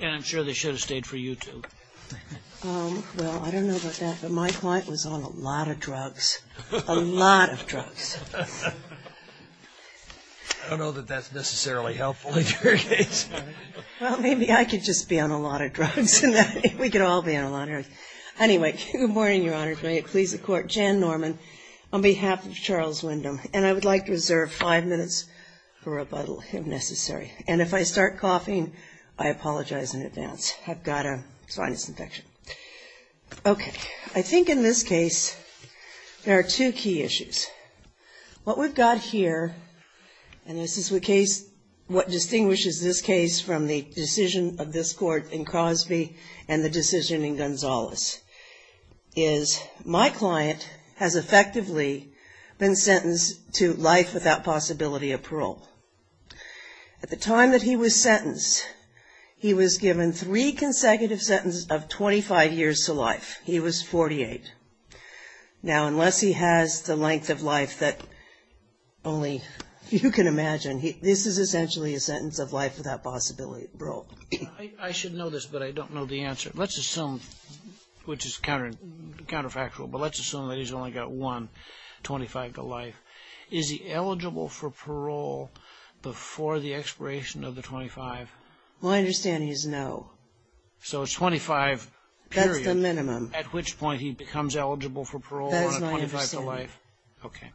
And I'm sure they should have stayed for you, too. Well, I don't know about that, but my client was on a lot of drugs, a lot of drugs. I don't know that that's necessarily helpful, in your case. Well, maybe I could just be on a lot of drugs, and then we could all be on a lot of drugs. Anyway, good morning, Your Honor, and may it please the Court. Jan Norman on behalf of Charles Windham. And I would like to reserve five minutes for rebuttal, if necessary. And if I start coughing, I apologize in advance. I've got a sinus infection. Okay, I think in this case, there are two key issues. What we've got here, and this is the case, what distinguishes this case from the decision of this court in Crosby and the decision in Gonzales, is my client has effectively been sentenced to life without possibility of parole. At the time that he was sentenced, he was given three consecutive sentences of 25 years to life. He was 48. Now, unless he has the length of life that only you can imagine, this is essentially a sentence of life without possibility of parole. I should know this, but I don't know the answer. Let's assume, which is counterfactual, but let's assume that he's only got one, 25 to life. Is he eligible for parole before the expiration of the 25? Well, I understand he's no. So it's 25 period. That's the minimum. At which point he becomes eligible for parole on a 25 to life. Okay.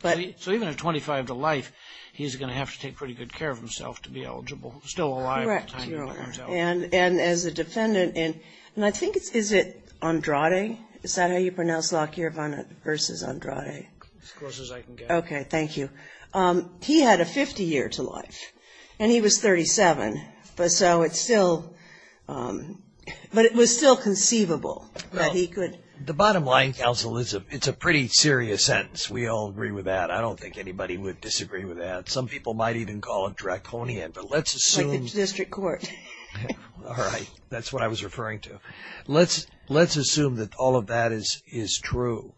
But- So even at 25 to life, he's going to have to take pretty good care of himself to be eligible. Still alive by the time he becomes eligible. And as a defendant, and I think it's, is it Andrade? Is that how you pronounce Lockyer versus Andrade? As close as I can get. Okay, thank you. He had a 50 year to life, and he was 37. But so it's still, but it was still conceivable that he could- The bottom line, counsel, is it's a pretty serious sentence. We all agree with that. I don't think anybody would disagree with that. Some people might even call it draconian, but let's assume- All right, that's what I was referring to. Let's assume that all of that is true.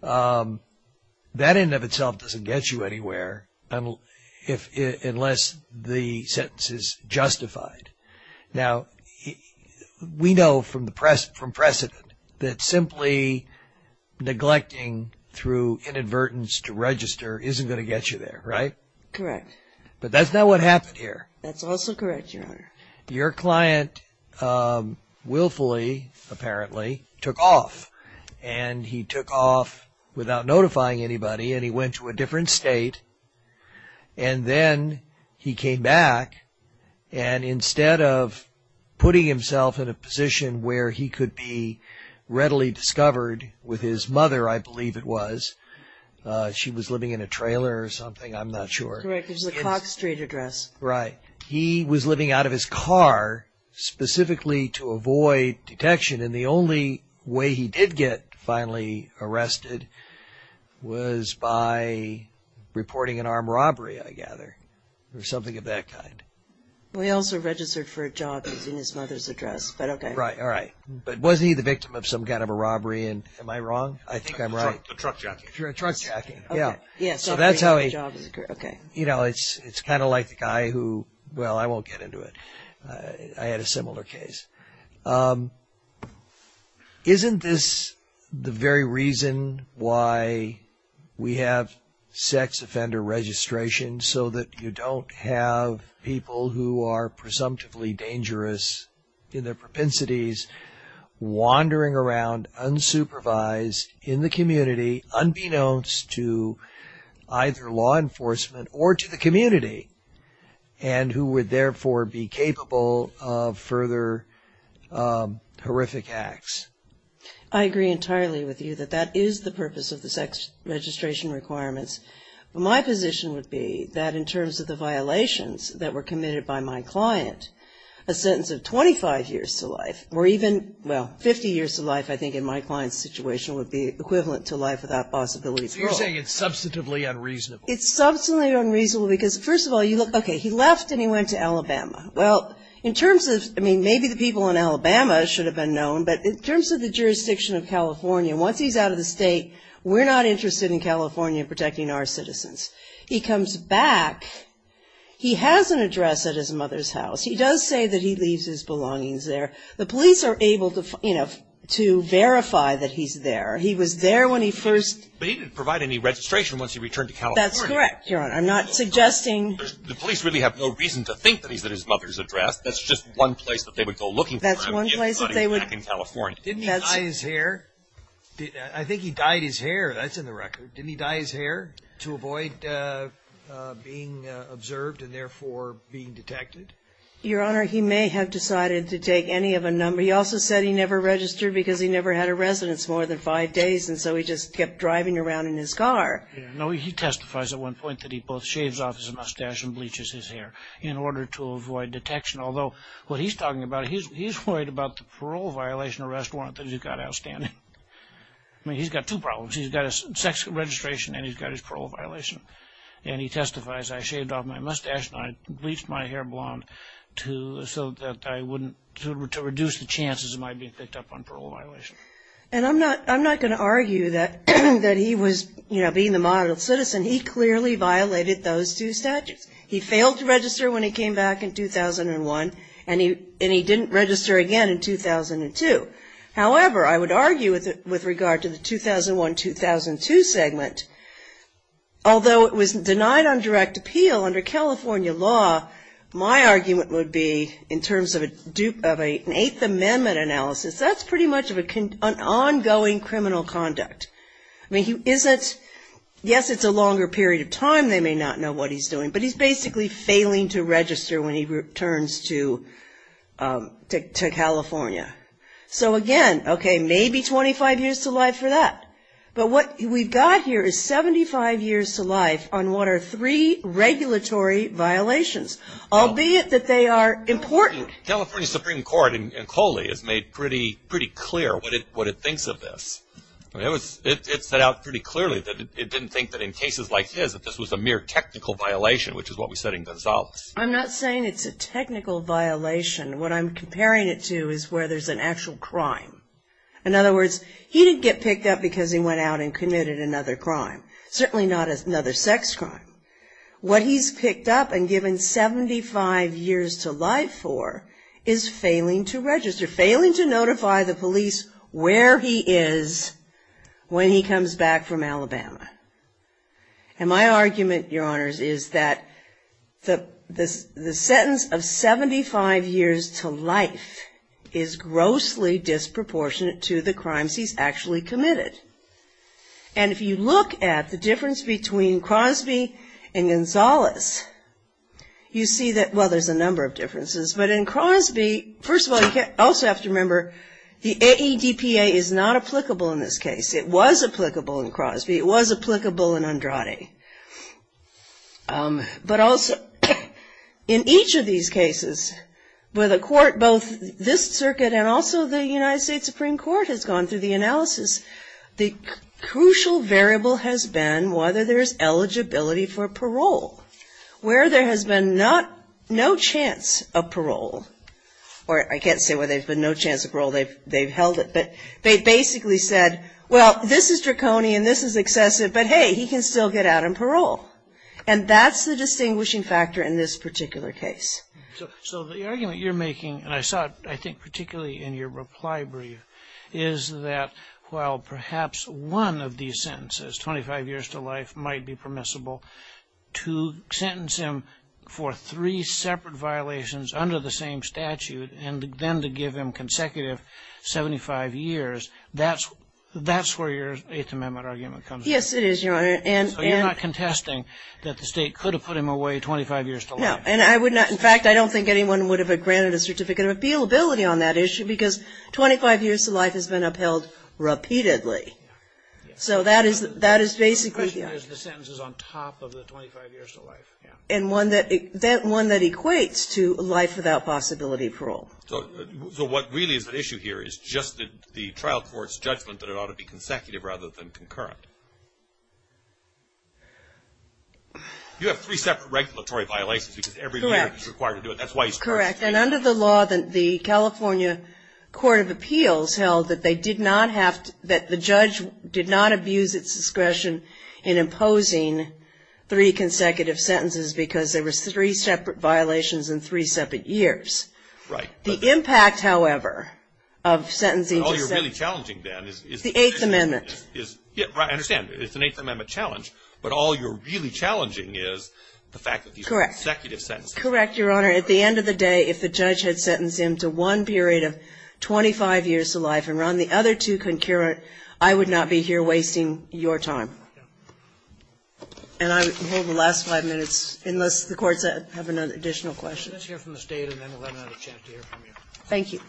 That in and of itself doesn't get you anywhere unless the sentence is justified. Now, we know from precedent that simply neglecting through inadvertence to register isn't going to get you there, right? Correct. But that's not what happened here. That's also correct, your honor. Your client willfully, apparently, took off. And he took off without notifying anybody, and he went to a different state. And then he came back, and instead of putting himself in a position where he could be readily discovered with his mother, I believe it was. She was living in a trailer or something, I'm not sure. Correct, it was a Cox Street address. Right. He was living out of his car specifically to avoid detection. And the only way he did get finally arrested was by reporting an armed robbery, I gather, or something of that kind. Well, he also registered for a job that's in his mother's address, but okay. Right, all right. But was he the victim of some kind of a robbery? And am I wrong? I think I'm right. A truck jockey. If you're a truck jockey, yeah. Yeah, so that's how he- Okay. You know, it's kind of like the guy who, well, I won't get into it. I had a similar case. Isn't this the very reason why we have sex offender registration, so that you don't have people who are presumptively dangerous in their propensities wandering around unsupervised in the community, unbeknownst to either law enforcement or to the community, and who would therefore be capable of further horrific acts? I agree entirely with you that that is the purpose of the sex registration requirements. My position would be that in terms of the violations that were committed by my client, a sentence of 25 years to life, or even, well, 50 years to life, I think in my client's situation, would be equivalent to life without possibility of parole. So you're saying it's substantively unreasonable. It's substantively unreasonable because, first of all, you look, okay, he left and he went to Alabama. Well, in terms of, I mean, maybe the people in Alabama should have been known, but in terms of the jurisdiction of California, once he's out of the state, we're not interested in California protecting our citizens. He comes back, he has an address at his mother's house. He does say that he leaves his belongings there. The police are able to, you know, to verify that he's there. He was there when he first. But he didn't provide any registration once he returned to California. That's correct, Your Honor. I'm not suggesting. The police really have no reason to think that he's at his mother's address. That's just one place that they would go looking for him. That's one place that they would. Back in California. Didn't he dye his hair? I think he dyed his hair. That's in the record. Didn't he dye his hair to avoid being observed and therefore being detected? Your Honor, he may have decided to take any of a number. He also said he never registered because he never had a residence more than five days. And so he just kept driving around in his car. No, he testifies at one point that he both shaves off his mustache and bleaches his hair in order to avoid detection. Although what he's talking about, he's worried about the parole violation arrest warrant that he's got outstanding. I mean, he's got two problems. He's got a sex registration and he's got his parole violation. And he testifies, I shaved off my mustache and I bleached my hair blonde to, so that I wouldn't, to reduce the chances of my being picked up on parole violation. And I'm not, I'm not going to argue that, that he was, you know, being the model citizen, he clearly violated those two statutes. He failed to register when he came back in 2001, and he, and he didn't register again in 2002. However, I would argue with, with regard to the 2001-2002 segment, although it was denied on direct appeal under California law. My argument would be, in terms of a, of a, an Eighth Amendment analysis, that's pretty much of a con, an ongoing criminal conduct. I mean, he isn't, yes, it's a longer period of time. They may not know what he's doing. But he's basically failing to register when he returns to to, to California. So again, okay, maybe 25 years to life for that. But what we've got here is 75 years to life on what are three regulatory violations. Albeit that they are important. California Supreme Court in, in Coley has made pretty, pretty clear what it, what it thinks of this. I mean, it was, it, it set out pretty clearly that it, it didn't think that in cases like his, that this was a mere technical violation, which is what we said in Gonzales. I'm not saying it's a technical violation. What I'm comparing it to is where there's an actual crime. In other words, he didn't get picked up because he went out and committed another crime. Certainly not another sex crime. What he's picked up and given 75 years to life for, is failing to register. Failing to notify the police where he is when he comes back from Alabama. And my argument, your honors, is that the, the, the sentence of 75 years to life is grossly disproportionate to the crimes he's actually committed. And if you look at the difference between Crosby and Gonzales, you see that, well, there's a number of differences. But in Crosby, first of all, you can, also have to remember, the AEDPA is not applicable in this case. It was applicable in Crosby. It was applicable in Andrade. But also, in each of these cases, where the court, both this circuit and also the United States Supreme Court has gone through the analysis, the crucial variable has been whether there's eligibility for parole, where there has been not, no chance of parole. Or I can't say where there's been no chance of parole, they've, they've held it. But they basically said, well, this is draconian, this is excessive. But hey, he can still get out on parole. And that's the distinguishing factor in this particular case. So, so the argument you're making, and I saw it, I think, particularly in your reply brief, is that, well, perhaps one of these sentences, 25 years to life, might be permissible to sentence him for three separate violations under the same statute, and then to give him consecutive 75 years. That's, that's where your Eighth Amendment argument comes in. Yes, it is, Your Honor. And, and. So you're not contesting that the State could have put him away 25 years to life. No, and I would not, in fact, I don't think anyone would have granted a certificate of appealability on that issue, because 25 years to life has been upheld repeatedly. So that is, that is basically. The question is the sentence is on top of the 25 years to life, yeah. And one that, that, one that equates to life without possibility of parole. So, so what really is at issue here is just the trial court's judgment that it ought to be consecutive rather than concurrent. You have three separate regulatory violations, because every year you're required to do it. That's why he's. Correct. And under the law, the California Court of Appeals held that they did not have to, that the judge did not abuse its discretion in imposing three consecutive sentences, because there was three separate violations in three separate years. Right. The impact, however, of sentencing. All you're really challenging, then, is, is. The Eighth Amendment. Is, yeah, right, I understand. It's an Eighth Amendment challenge, but all you're really challenging is the fact that these are consecutive sentences. Correct, Your Honor. At the end of the day, if the judge had sentenced him to one period of 25 years to life and were on the other two concurrent, I would not be here wasting your time. And I will hold the last five minutes, unless the courts have an additional question. Let's hear from the State, and then we'll have another chance to hear from you. Thank you.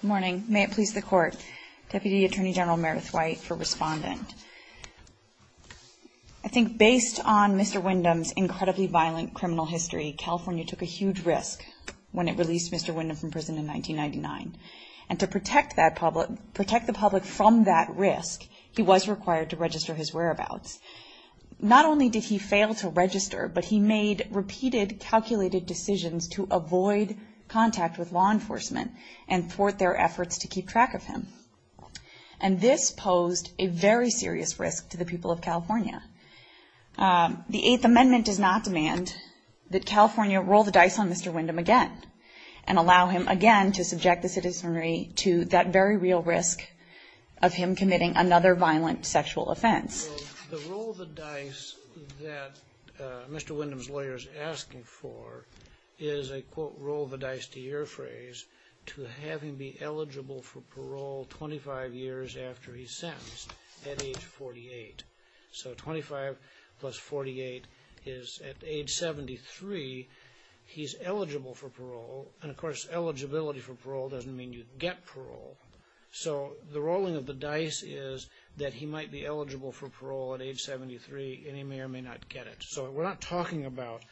Good morning. May it please the Court. Deputy Attorney General Merith White for Respondent. I think based on Mr. Windham's incredibly violent criminal history, California took a huge risk when it released Mr. Windham from prison in 1999. And to protect that public, protect the public from that risk, he was required to register his whereabouts. Not only did he fail to register, but he made repeated calculated decisions to avoid contact with law enforcement and thwart their efforts to keep track of him. And this posed a very serious risk to the people of California. The Eighth Amendment does not demand that California roll the dice on Mr. Windham again, and allow him again to subject the citizenry to that very real risk of him committing another violent sexual offense. The roll of the dice that Mr. Windham's lawyer is asking for is a quote, roll the dice to your phrase, to have him be eligible for parole 25 years after he's sentenced at age 48. So 25 plus 48 is at age 73, he's eligible for parole. And of course, eligibility for parole doesn't mean you get parole. So the rolling of the dice is that he might be eligible for parole at age 73, and he may or may not get it. So we're not talking about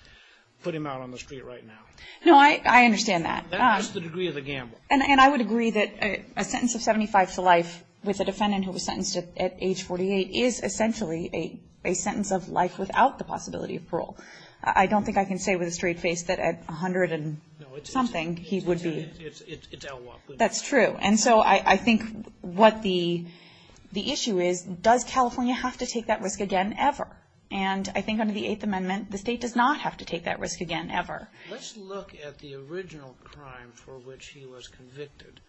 putting him out on the street right now. No, I understand that. That's the degree of the gamble. And I would agree that a sentence of 75 to life with a defendant who was sentenced at age 48 is essentially a sentence of life without the possibility of parole. I don't think I can say with a straight face that at 100 and something he would be. It's outlawed. That's true. And so I think what the issue is, does California have to take that risk again, ever? And I think under the Eighth Amendment, the state does not have to take that risk again, ever. Let's look at the original crime for which he was convicted.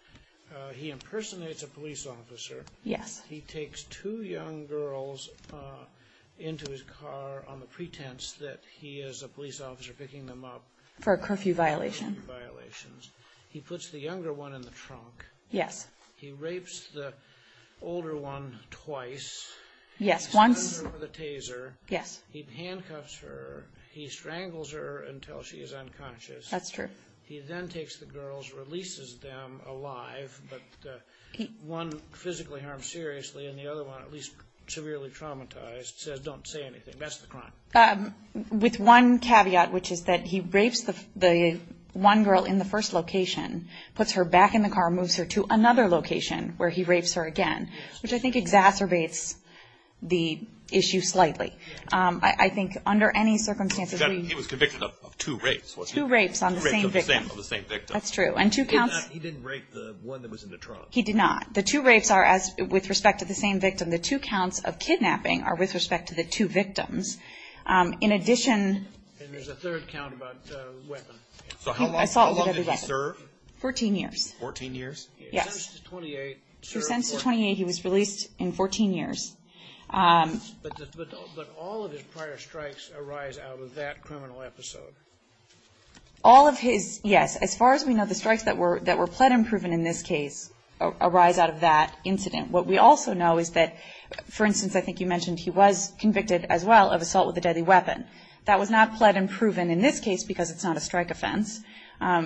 He impersonates a police officer. Yes. He takes two young girls into his car on the pretense that he is a police officer picking them up. For a curfew violation. For curfew violations. He puts the younger one in the trunk. Yes. He rapes the older one twice. Yes. Once. With a taser. Yes. He handcuffs her. He strangles her until she is unconscious. That's true. He then takes the girls, releases them alive. But one physically harmed seriously and the other one at least severely traumatized, says don't say anything. That's the crime. With one caveat, which is that he rapes the one girl in the first location, puts her back in the car, moves her to another location where he rapes her again, which I think exacerbates the issue slightly. I think under any circumstances, he was convicted of two rapes. Two rapes on the same victim. That's true. And two counts. He didn't rape the one that was in the trunk. He did not. The two rapes are as with respect to the same victim. The two counts of kidnapping are with respect to the two victims. In addition. And there's a third count about the weapon. So how long did he serve? Fourteen years. Fourteen years? Yes. He was sentenced to 28. He was released in 14 years. But all of his prior strikes arise out of that criminal episode. All of his, yes. As far as we know, the strikes that were that were pled and proven in this case arise out of that incident. What we also know is that, for instance, I think you mentioned he was convicted as well of assault with a deadly weapon. That was not pled and proven in this case because it's not a strike offense.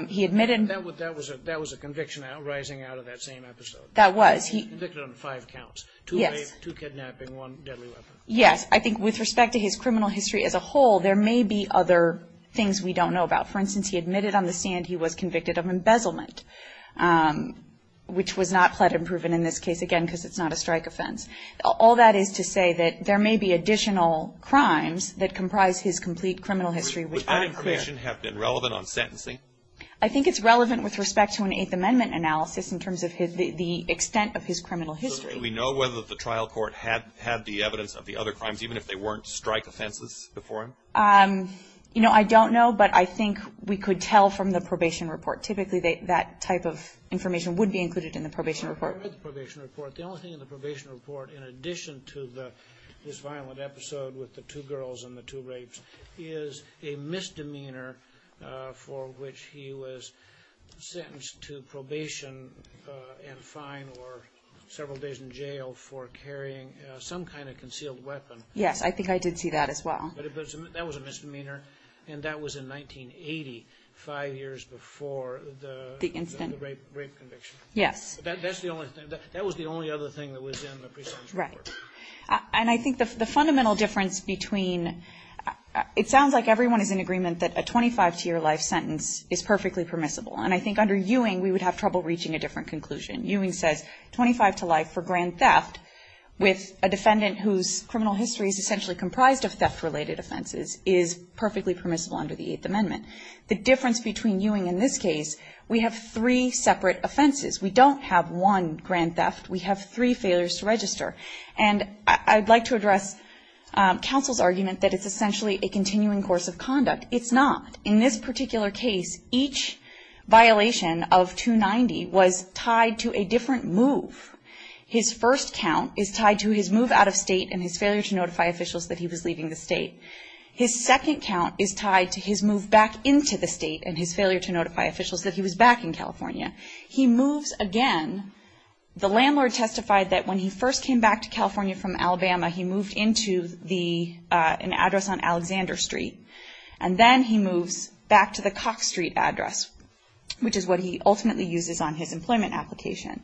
He admitted. That was a conviction arising out of that same episode. That was. He was convicted on five counts. Two rapes, two kidnapping, one deadly weapon. Yes. I think with respect to his criminal history as a whole, there may be other things we don't know about. For instance, he admitted on the stand he was convicted of embezzlement, which was not pled and proven in this case. Again, because it's not a strike offense. All that is to say that there may be additional crimes that comprise his complete criminal history. Would that information have been relevant on sentencing? I think it's relevant with respect to an Eighth Amendment analysis in terms of the extent of his criminal history. Do we know whether the trial court had the evidence of the other crimes, even if they weren't strike offenses before him? You know, I don't know. But I think we could tell from the probation report. Typically, that type of information would be included in the probation report. I read the probation report. The only thing in the probation report, in addition to this violent episode with the two girls and the two rapes, is a misdemeanor for which he was sentenced to probation and fine or several days in jail for carrying some kind of concealed weapon. Yes, I think I did see that as well. But that was a misdemeanor, and that was in 1980, five years before the rape conviction. Yes. But that was the only other thing that was in the pre-sentence report. Right. And I think the fundamental difference between, it sounds like everyone is in agreement that a 25-to-your-life sentence is perfectly permissible. And I think under Ewing, we would have trouble reaching a different conclusion. Ewing says 25 to life for grand theft with a defendant whose criminal history is essentially comprised of theft-related offenses is perfectly permissible under the Eighth Amendment. The difference between Ewing in this case, we have three separate offenses. We don't have one grand theft. We have three failures to register. And I'd like to address counsel's argument that it's essentially a continuing course of conduct. It's not. In this particular case, each violation of 290 was tied to a different move. His first count is tied to his move out of state and his failure to notify officials that he was leaving the state. His second count is tied to his move back into the state and his failure to notify officials that he was back in California. He moves again. The landlord testified that when he first came back to California from Alabama, he moved into an address on Alexander Street. And then he moves back to the Cox Street address, which is what he ultimately uses on his employment application.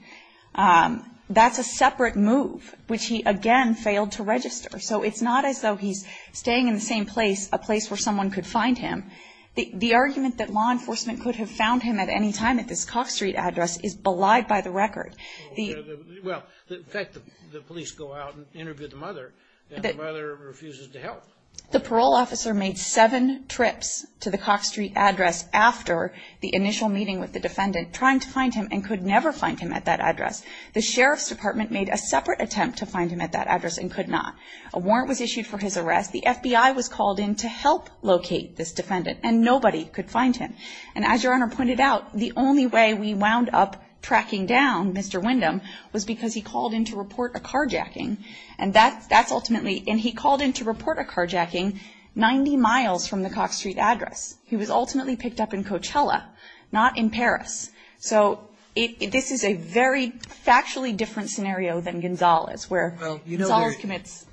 That's a separate move, which he again failed to register. So it's not as though he's staying in the same place, a place where someone could find him. The argument that law enforcement could have found him at any time at this Cox Street address is belied by the record. The- Well, in fact, the police go out and interview the mother, and the mother refuses to help. The parole officer made seven trips to the Cox Street address after the initial meeting with the defendant, trying to find him and could never find him at that address. The sheriff's department made a separate attempt to find him at that address and could not. A warrant was issued for his arrest. The FBI was called in to help locate this defendant, and nobody could find him. And as Your Honor pointed out, the only way we wound up tracking down Mr. Windham was because he called in to report a carjacking. And that's ultimately, and he called in to report a carjacking 90 miles from the Cox Street address. He was ultimately picked up in Coachella, not in Paris. So this is a very factually different scenario than Gonzalez, where Gonzalez commits-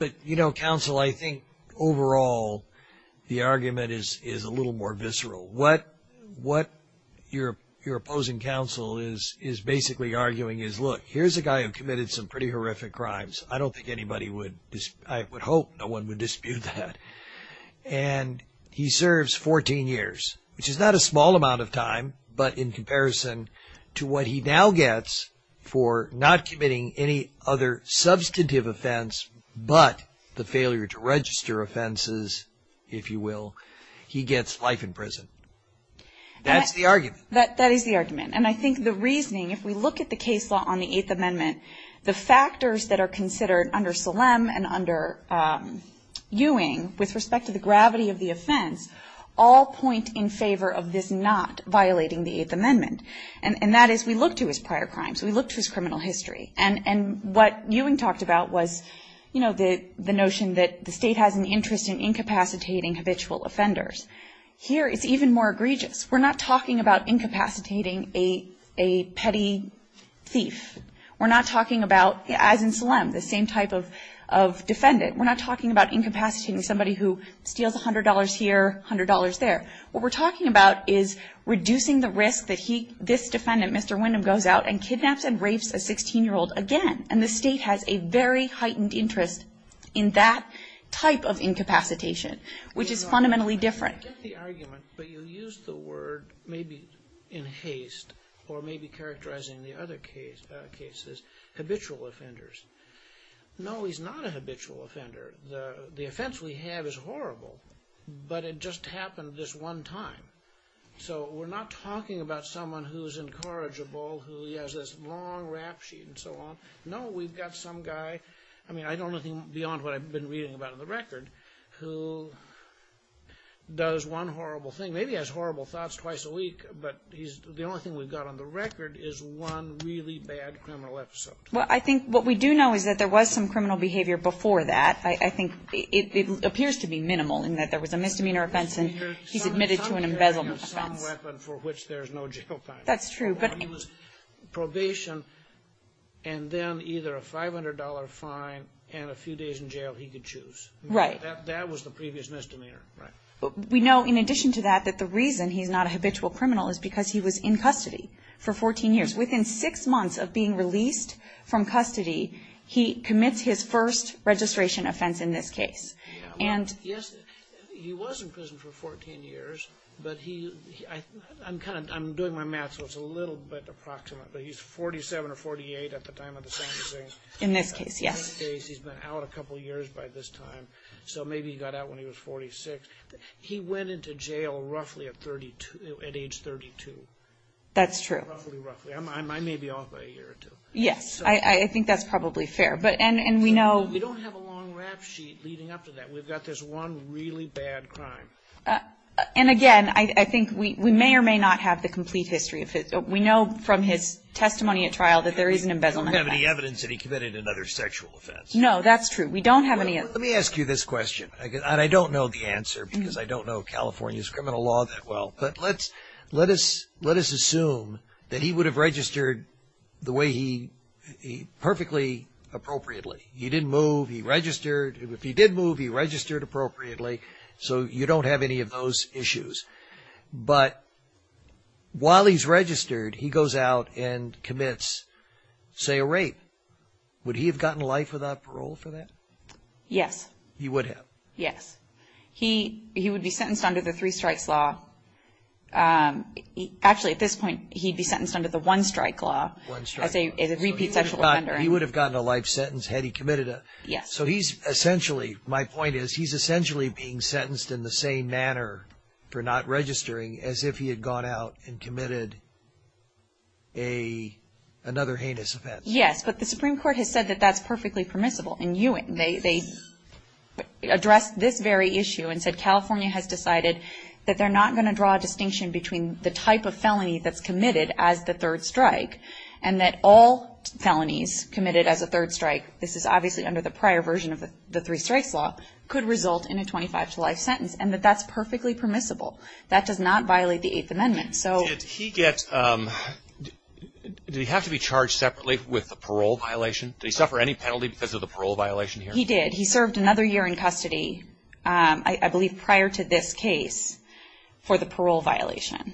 Overall, the argument is a little more visceral. What your opposing counsel is basically arguing is, look, here's a guy who committed some pretty horrific crimes. I don't think anybody would- I would hope no one would dispute that. And he serves 14 years, which is not a small amount of time, but in comparison to what he now gets for not committing any other substantive offense but the failure to register offenses, if you will, he gets life in prison. That's the argument. That is the argument. And I think the reasoning, if we look at the case law on the Eighth Amendment, the factors that are considered under Salem and under Ewing with respect to the gravity of the offense, all point in favor of this not violating the Eighth Amendment. And that is, we look to his prior crimes. We look to his criminal history. And what Ewing talked about was the notion that the state has an interest in incapacitating habitual offenders. Here, it's even more egregious. We're not talking about incapacitating a petty thief. We're not talking about, as in Salem, the same type of defendant. We're not talking about incapacitating somebody who steals $100 here, $100 there. What we're talking about is reducing the risk that he, this defendant, Mr. Windham, goes out and kidnaps and rapes a 16-year-old again. And the state has a very heightened interest in that type of incapacitation, which is fundamentally different. You get the argument, but you use the word, maybe in haste or maybe characterizing the other cases, habitual offenders. No, he's not a habitual offender. The offense we have is horrible, but it just happened this one time. So we're not talking about someone who's incorrigible, who has this long rap sheet and so on. No, we've got some guy, I mean, I don't think beyond what I've been reading about in the record, who does one horrible thing, maybe has horrible thoughts twice a week, but the only thing we've got on the record is one really bad criminal episode. Well, I think what we do know is that there was some criminal behavior before that. I think it appears to be minimal in that there was a misdemeanor offense and he's admitted to an embezzlement offense. Some weapon for which there's no jail time. That's true. But probation and then either a $500 fine and a few days in jail, he could choose. Right. That was the previous misdemeanor, right. We know, in addition to that, that the reason he's not a habitual criminal is because he was in custody for 14 years. Within six months of being released from custody, he commits his first registration offense in this case. Yes, he was in prison for 14 years, but he, I'm doing my math so it's a little bit approximate, but he's 47 or 48 at the time of the same thing. In this case, yes. In this case, he's been out a couple years by this time, so maybe he got out when he was 46. He went into jail roughly at age 32. That's true. Roughly, roughly. I may be off by a year or two. Yes, I think that's probably fair. We don't have a long rap sheet leading up to that. We've got this one really bad crime. And again, I think we may or may not have the complete history. We know from his testimony at trial that there is an embezzlement offense. We don't have any evidence that he committed another sexual offense. No, that's true. We don't have any. Let me ask you this question, and I don't know the answer because I don't know California's criminal law that well, but let us assume that he would have registered perfectly appropriately. He didn't move. He registered. If he did move, he registered appropriately, so you don't have any of those issues. But while he's registered, he goes out and commits, say, a rape. Would he have gotten life without parole for that? Yes. He would have. Yes. He would be sentenced under the three-strikes law. Actually, at this point, he'd be sentenced under the one-strike law as a repeat sexual offender. He would have gotten a life sentence had he committed it. Yes. So he's essentially, my point is, he's essentially being sentenced in the same manner for not registering as if he had gone out and committed another heinous offense. Yes, but the Supreme Court has said that that's perfectly permissible in Ewing. They addressed this very issue and said California has decided that they're not going to draw a distinction between the type of felony that's committed as the third strike and that all felonies committed as a third strike, this is obviously under the prior version of the three-strikes law, could result in a 25-to-life sentence and that that's perfectly permissible. That does not violate the Eighth Amendment. Did he get, did he have to be charged separately with the parole violation? Did he suffer any penalty because of the parole violation? He did. He served another year in custody, I believe prior to this case, for the parole violation.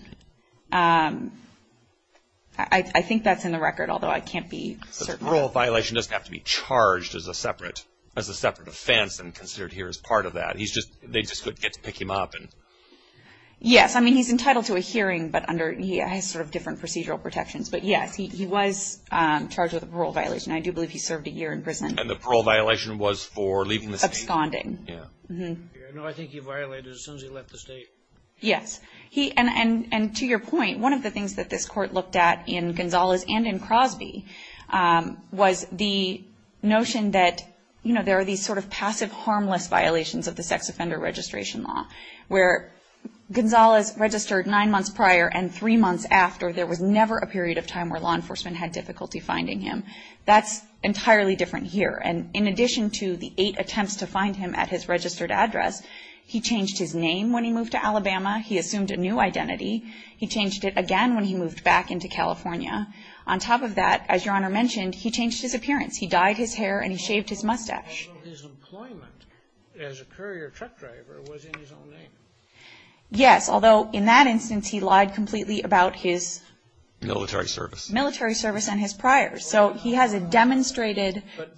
I think that's in the record, although I can't be certain. So the parole violation doesn't have to be charged as a separate offense and considered here as part of that. He's just, they just get to pick him up. Yes, I mean, he's entitled to a hearing, but under, he has sort of different procedural protections. But yes, he was charged with a parole violation. I do believe he served a year in prison. And the parole violation was for leaving the state? Absconding. Yeah. No, I think he violated it as soon as he left the state. Yes. He, and to your point, one of the things that this Court looked at in Gonzales and in Crosby was the notion that, you know, there are these sort of passive harmless violations of the sex offender registration law, where Gonzales registered nine months prior and three months after there was never a period of time where law enforcement had difficulty finding him. That's entirely different here. And in addition to the eight attempts to find him at his registered address, he changed his name when he moved to Alabama. He assumed a new identity. He changed it again when he moved back into California. On top of that, as Your Honor mentioned, he changed his appearance. He dyed his hair and he shaved his mustache. Although his employment as a courier truck driver was in his own name. Yes, although in that instance, he lied completely about his Military service. Military service and his prior. So he has a demonstrated... But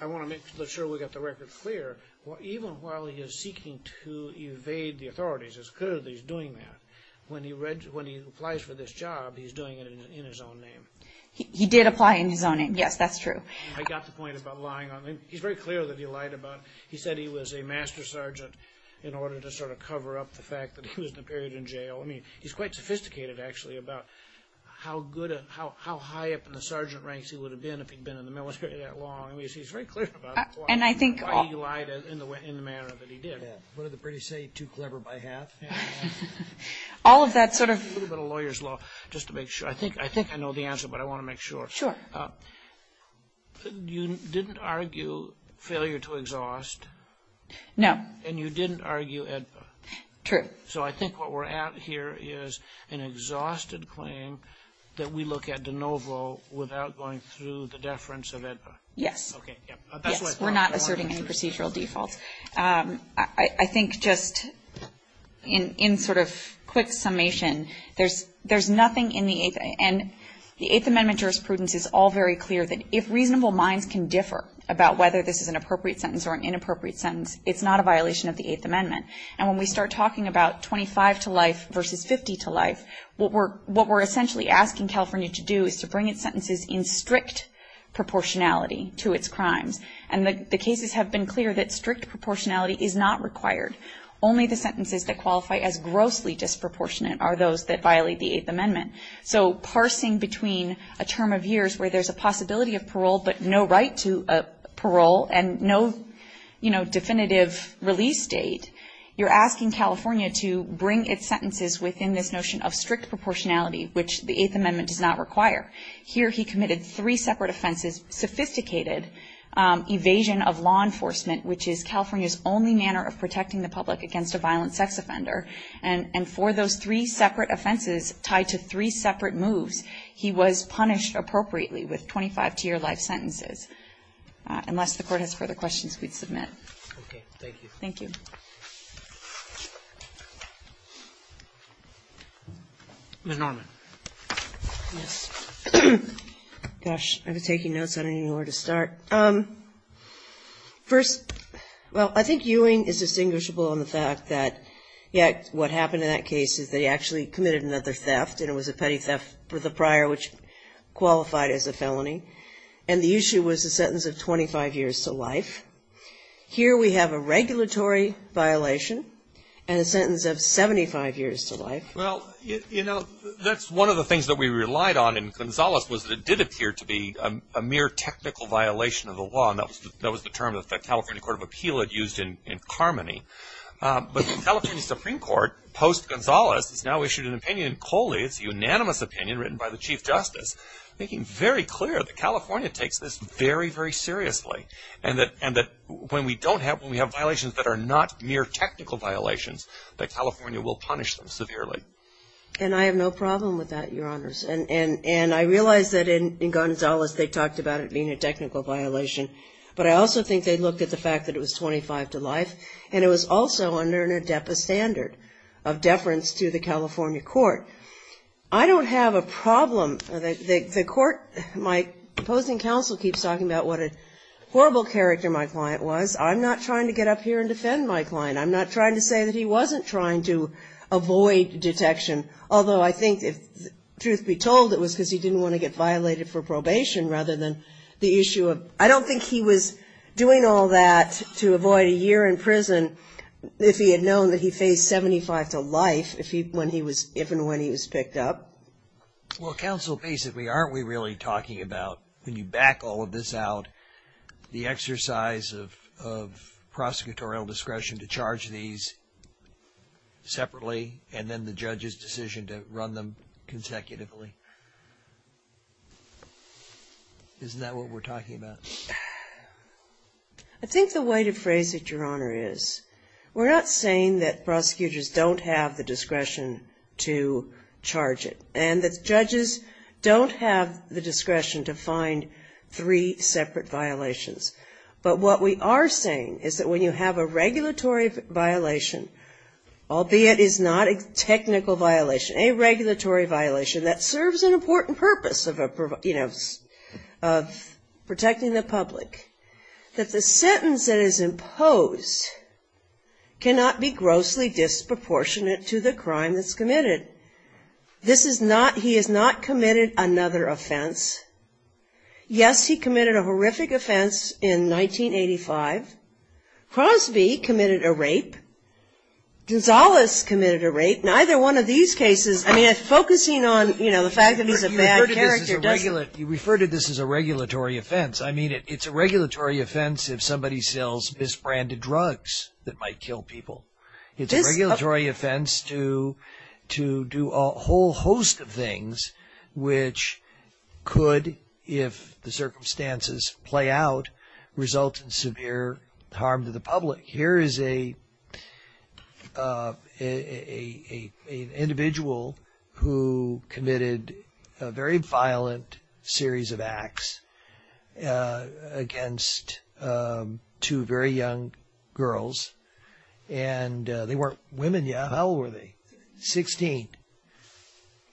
I want to make sure we got the record clear. Even while he is seeking to evade the authorities, it's clear that he's doing that. When he applies for this job, he's doing it in his own name. He did apply in his own name. Yes, that's true. I got the point about lying on him. He's very clear that he lied about it. He said he was a Master Sergeant in order to sort of cover up the fact that he was in a period in jail. He's quite sophisticated, actually, about how high up in the Sergeant ranks he would have been if he'd been in the military that long. He's very clear about why he lied in the manner that he did. What did the British say? Too clever by half? All of that sort of... A little bit of lawyer's law, just to make sure. I think I know the answer, but I want to make sure. Sure. You didn't argue failure to exhaust. No. And you didn't argue AEDPA. True. So I think what we're at here is an exhausted claim that we look at de novo without going through the deference of AEDPA. Yes. We're not asserting any procedural defaults. I think just in sort of quick summation, there's nothing in the Eighth... And the Eighth Amendment jurisprudence is all very clear that if reasonable minds can differ about whether this is an appropriate sentence or an inappropriate sentence, it's not a violation of the Eighth Amendment. And when we start talking about 25 to life versus 50 to life, what we're essentially asking California to do is to bring its sentences in strict proportionality to its crimes. And the cases have been clear that strict proportionality is not required. Only the sentences that qualify as grossly disproportionate are those that violate the Eighth Amendment. So parsing between a term of years where there's a possibility of parole, but no right to parole and no, you know, definitive release date, you're asking California to bring its sentences within this notion of strict proportionality, which the Eighth Amendment does not require. Here he committed three separate offenses, sophisticated evasion of law enforcement, which is California's only manner of protecting the public against a violent sex offender. And for those three separate offenses tied to three separate moves, he was punished appropriately with 25 to your life sentences. Unless the Court has further questions, please submit. Thank you. Thank you. Ms. Norman. Yes. Gosh, I was taking notes. I don't even know where to start. First, well, I think Ewing is distinguishable on the fact that, yeah, what happened in that case is they actually committed another theft, and it was a petty theft with a prior which qualified as a felony. And the issue was a sentence of 25 years to life. Here we have a regulatory violation and a sentence of 75 years to life. Well, you know, that's one of the things that we relied on in Gonzales was that it did appear to be a mere technical violation of the law, and that was the term that the California Court of Appeal had used in Carmody. But the California Supreme Court, post-Gonzales, has now issued an opinion in Coley. It's a unanimous opinion written by the Chief Justice, making very clear that California takes this very, very seriously, and that when we have violations that are not mere technical violations, that California will punish them severely. And I have no problem with that, Your Honors. And I realize that in Gonzales they talked about it being a technical violation, but I also think they looked at the fact that it was 25 to life, and it was also under an ADEPA standard of deference to the California Court. I don't have a problem. The court, my opposing counsel, keeps talking about what a horrible character my client was. I'm not trying to get up here and defend my client. I'm not trying to say that he wasn't trying to avoid detection, although I think, truth be told, it was because he didn't want to get violated for probation rather than the issue of, I don't think he was doing all that to avoid a year in prison if he had known that he faced 75 to life, if and when he was picked up. Well, counsel, basically, aren't we really talking about, when you back all of this out, the exercise of prosecutorial discretion to charge these separately, and then the judge's decision to run them consecutively? Isn't that what we're talking about? I think the way to phrase it, Your Honor, is we're not saying that prosecutors don't have the discretion to charge it, and that judges don't have the discretion to find three separate violations. But what we are saying is that when you have a regulatory violation, a regulatory violation that serves the purpose of the case, serves an important purpose of protecting the public, that the sentence that is imposed cannot be grossly disproportionate to the crime that's committed. This is not, he has not committed another offense. Yes, he committed a horrific offense in 1985. Gonzalez committed a rape. Neither one of these cases, I mean, focusing on, you know, the fact that he's a bad character doesn't... You refer to this as a regulatory offense. I mean, it's a regulatory offense if somebody sells misbranded drugs that might kill people. It's a regulatory offense to do a whole host of things which could, if the circumstances play out, result in severe harm to the public. Here is an individual who committed a very violent series of acts against two very young girls. And they weren't women yet. How old were they? Sixteen.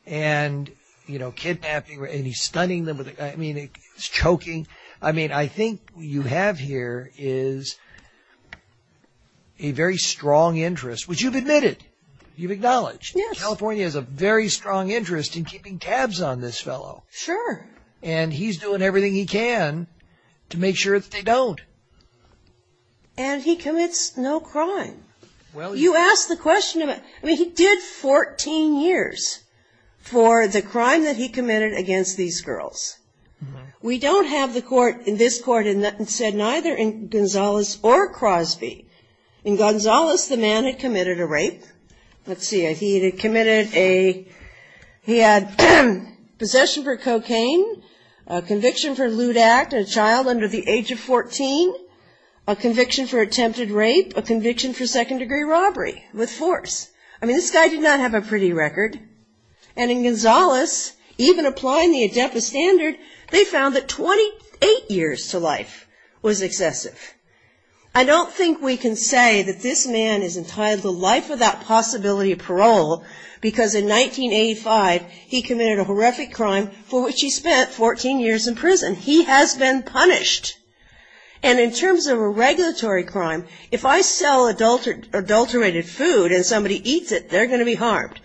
And, you know, kidnapping. And he's stunning them with a gun. I mean, he's choking. I mean, I think what you have here is a very strong interest, which you've admitted. You've acknowledged. Yes. California has a very strong interest in keeping tabs on this fellow. Sure. And he's doing everything he can to make sure that they don't. And he commits no crime. Well... You asked the question about... I mean, he did 14 years for the crime that he committed against these girls. We don't have the court in this court that said neither in Gonzales or Crosby. In Gonzales, the man had committed a rape. Let's see. He had committed a... He had possession for cocaine, a conviction for a lewd act on a child under the age of 14, a conviction for attempted rape, a conviction for second-degree robbery with force. I mean, this guy did not have a pretty record. And in Gonzales, even applying the adeptus standard, they found that 28 years to life was excessive. I don't think we can say that this man is entitled to life without possibility of parole because in 1985, he committed a horrific crime for which he spent 14 years in prison. He has been punished. And in terms of a regulatory crime, if I sell adulterated food and somebody eats it, they're going to be harmed.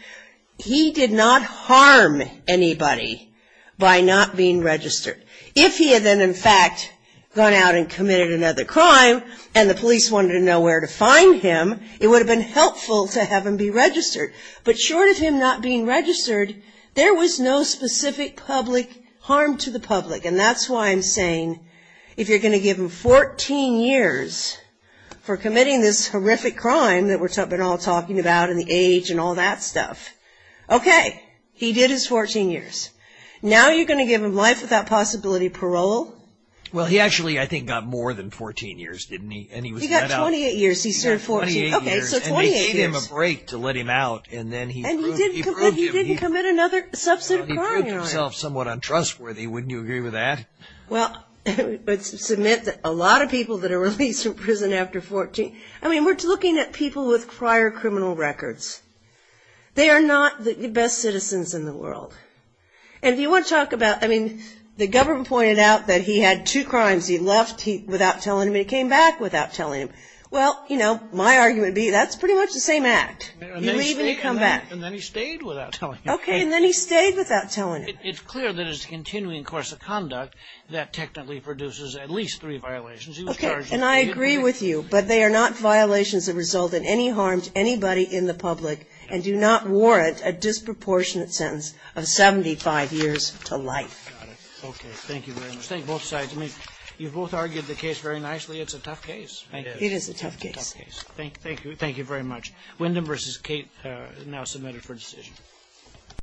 He did not harm anybody by not being registered. If he had then, in fact, gone out and committed another crime and the police wanted to know where to find him, it would have been helpful to have him be registered. But short of him not being registered, there was no specific public harm to the public. And that's why I'm saying if you're going to give him 14 years for committing this horrific crime that we've been all talking about and the age and all that stuff, okay, he did his 14 years. Now you're going to give him life without possibility of parole? Well, he actually, I think, got more than 14 years, didn't he? And he was let out. He got 28 years. He served 14. Okay, so 28 years. And they gave him a break to let him out. And then he proved himself somewhat untrustworthy. Wouldn't you agree with that? Well, I would submit that a lot of people that are released from prison after 14, I mean, we're looking at people with prior criminal records. They are not the best citizens in the world. And if you want to talk about, I mean, the government pointed out that he had two crimes. He left without telling them. He came back without telling them. Well, you know, my argument would be that's pretty much the same act. You leave and you come back. And then he stayed without telling them. Okay, and then he stayed without telling them. It's clear that his continuing course of conduct, that technically produces at least three violations. Okay, and I agree with you. But they are not violations that result in any harm to anybody in the public and do not warrant a disproportionate sentence of 75 years to life. Got it. Okay. Thank you very much. Thank both sides. I mean, you both argued the case very nicely. It's a tough case. It is. It is a tough case. Thank you. Thank you very much. Wyndham v. Cate now submitted for decision.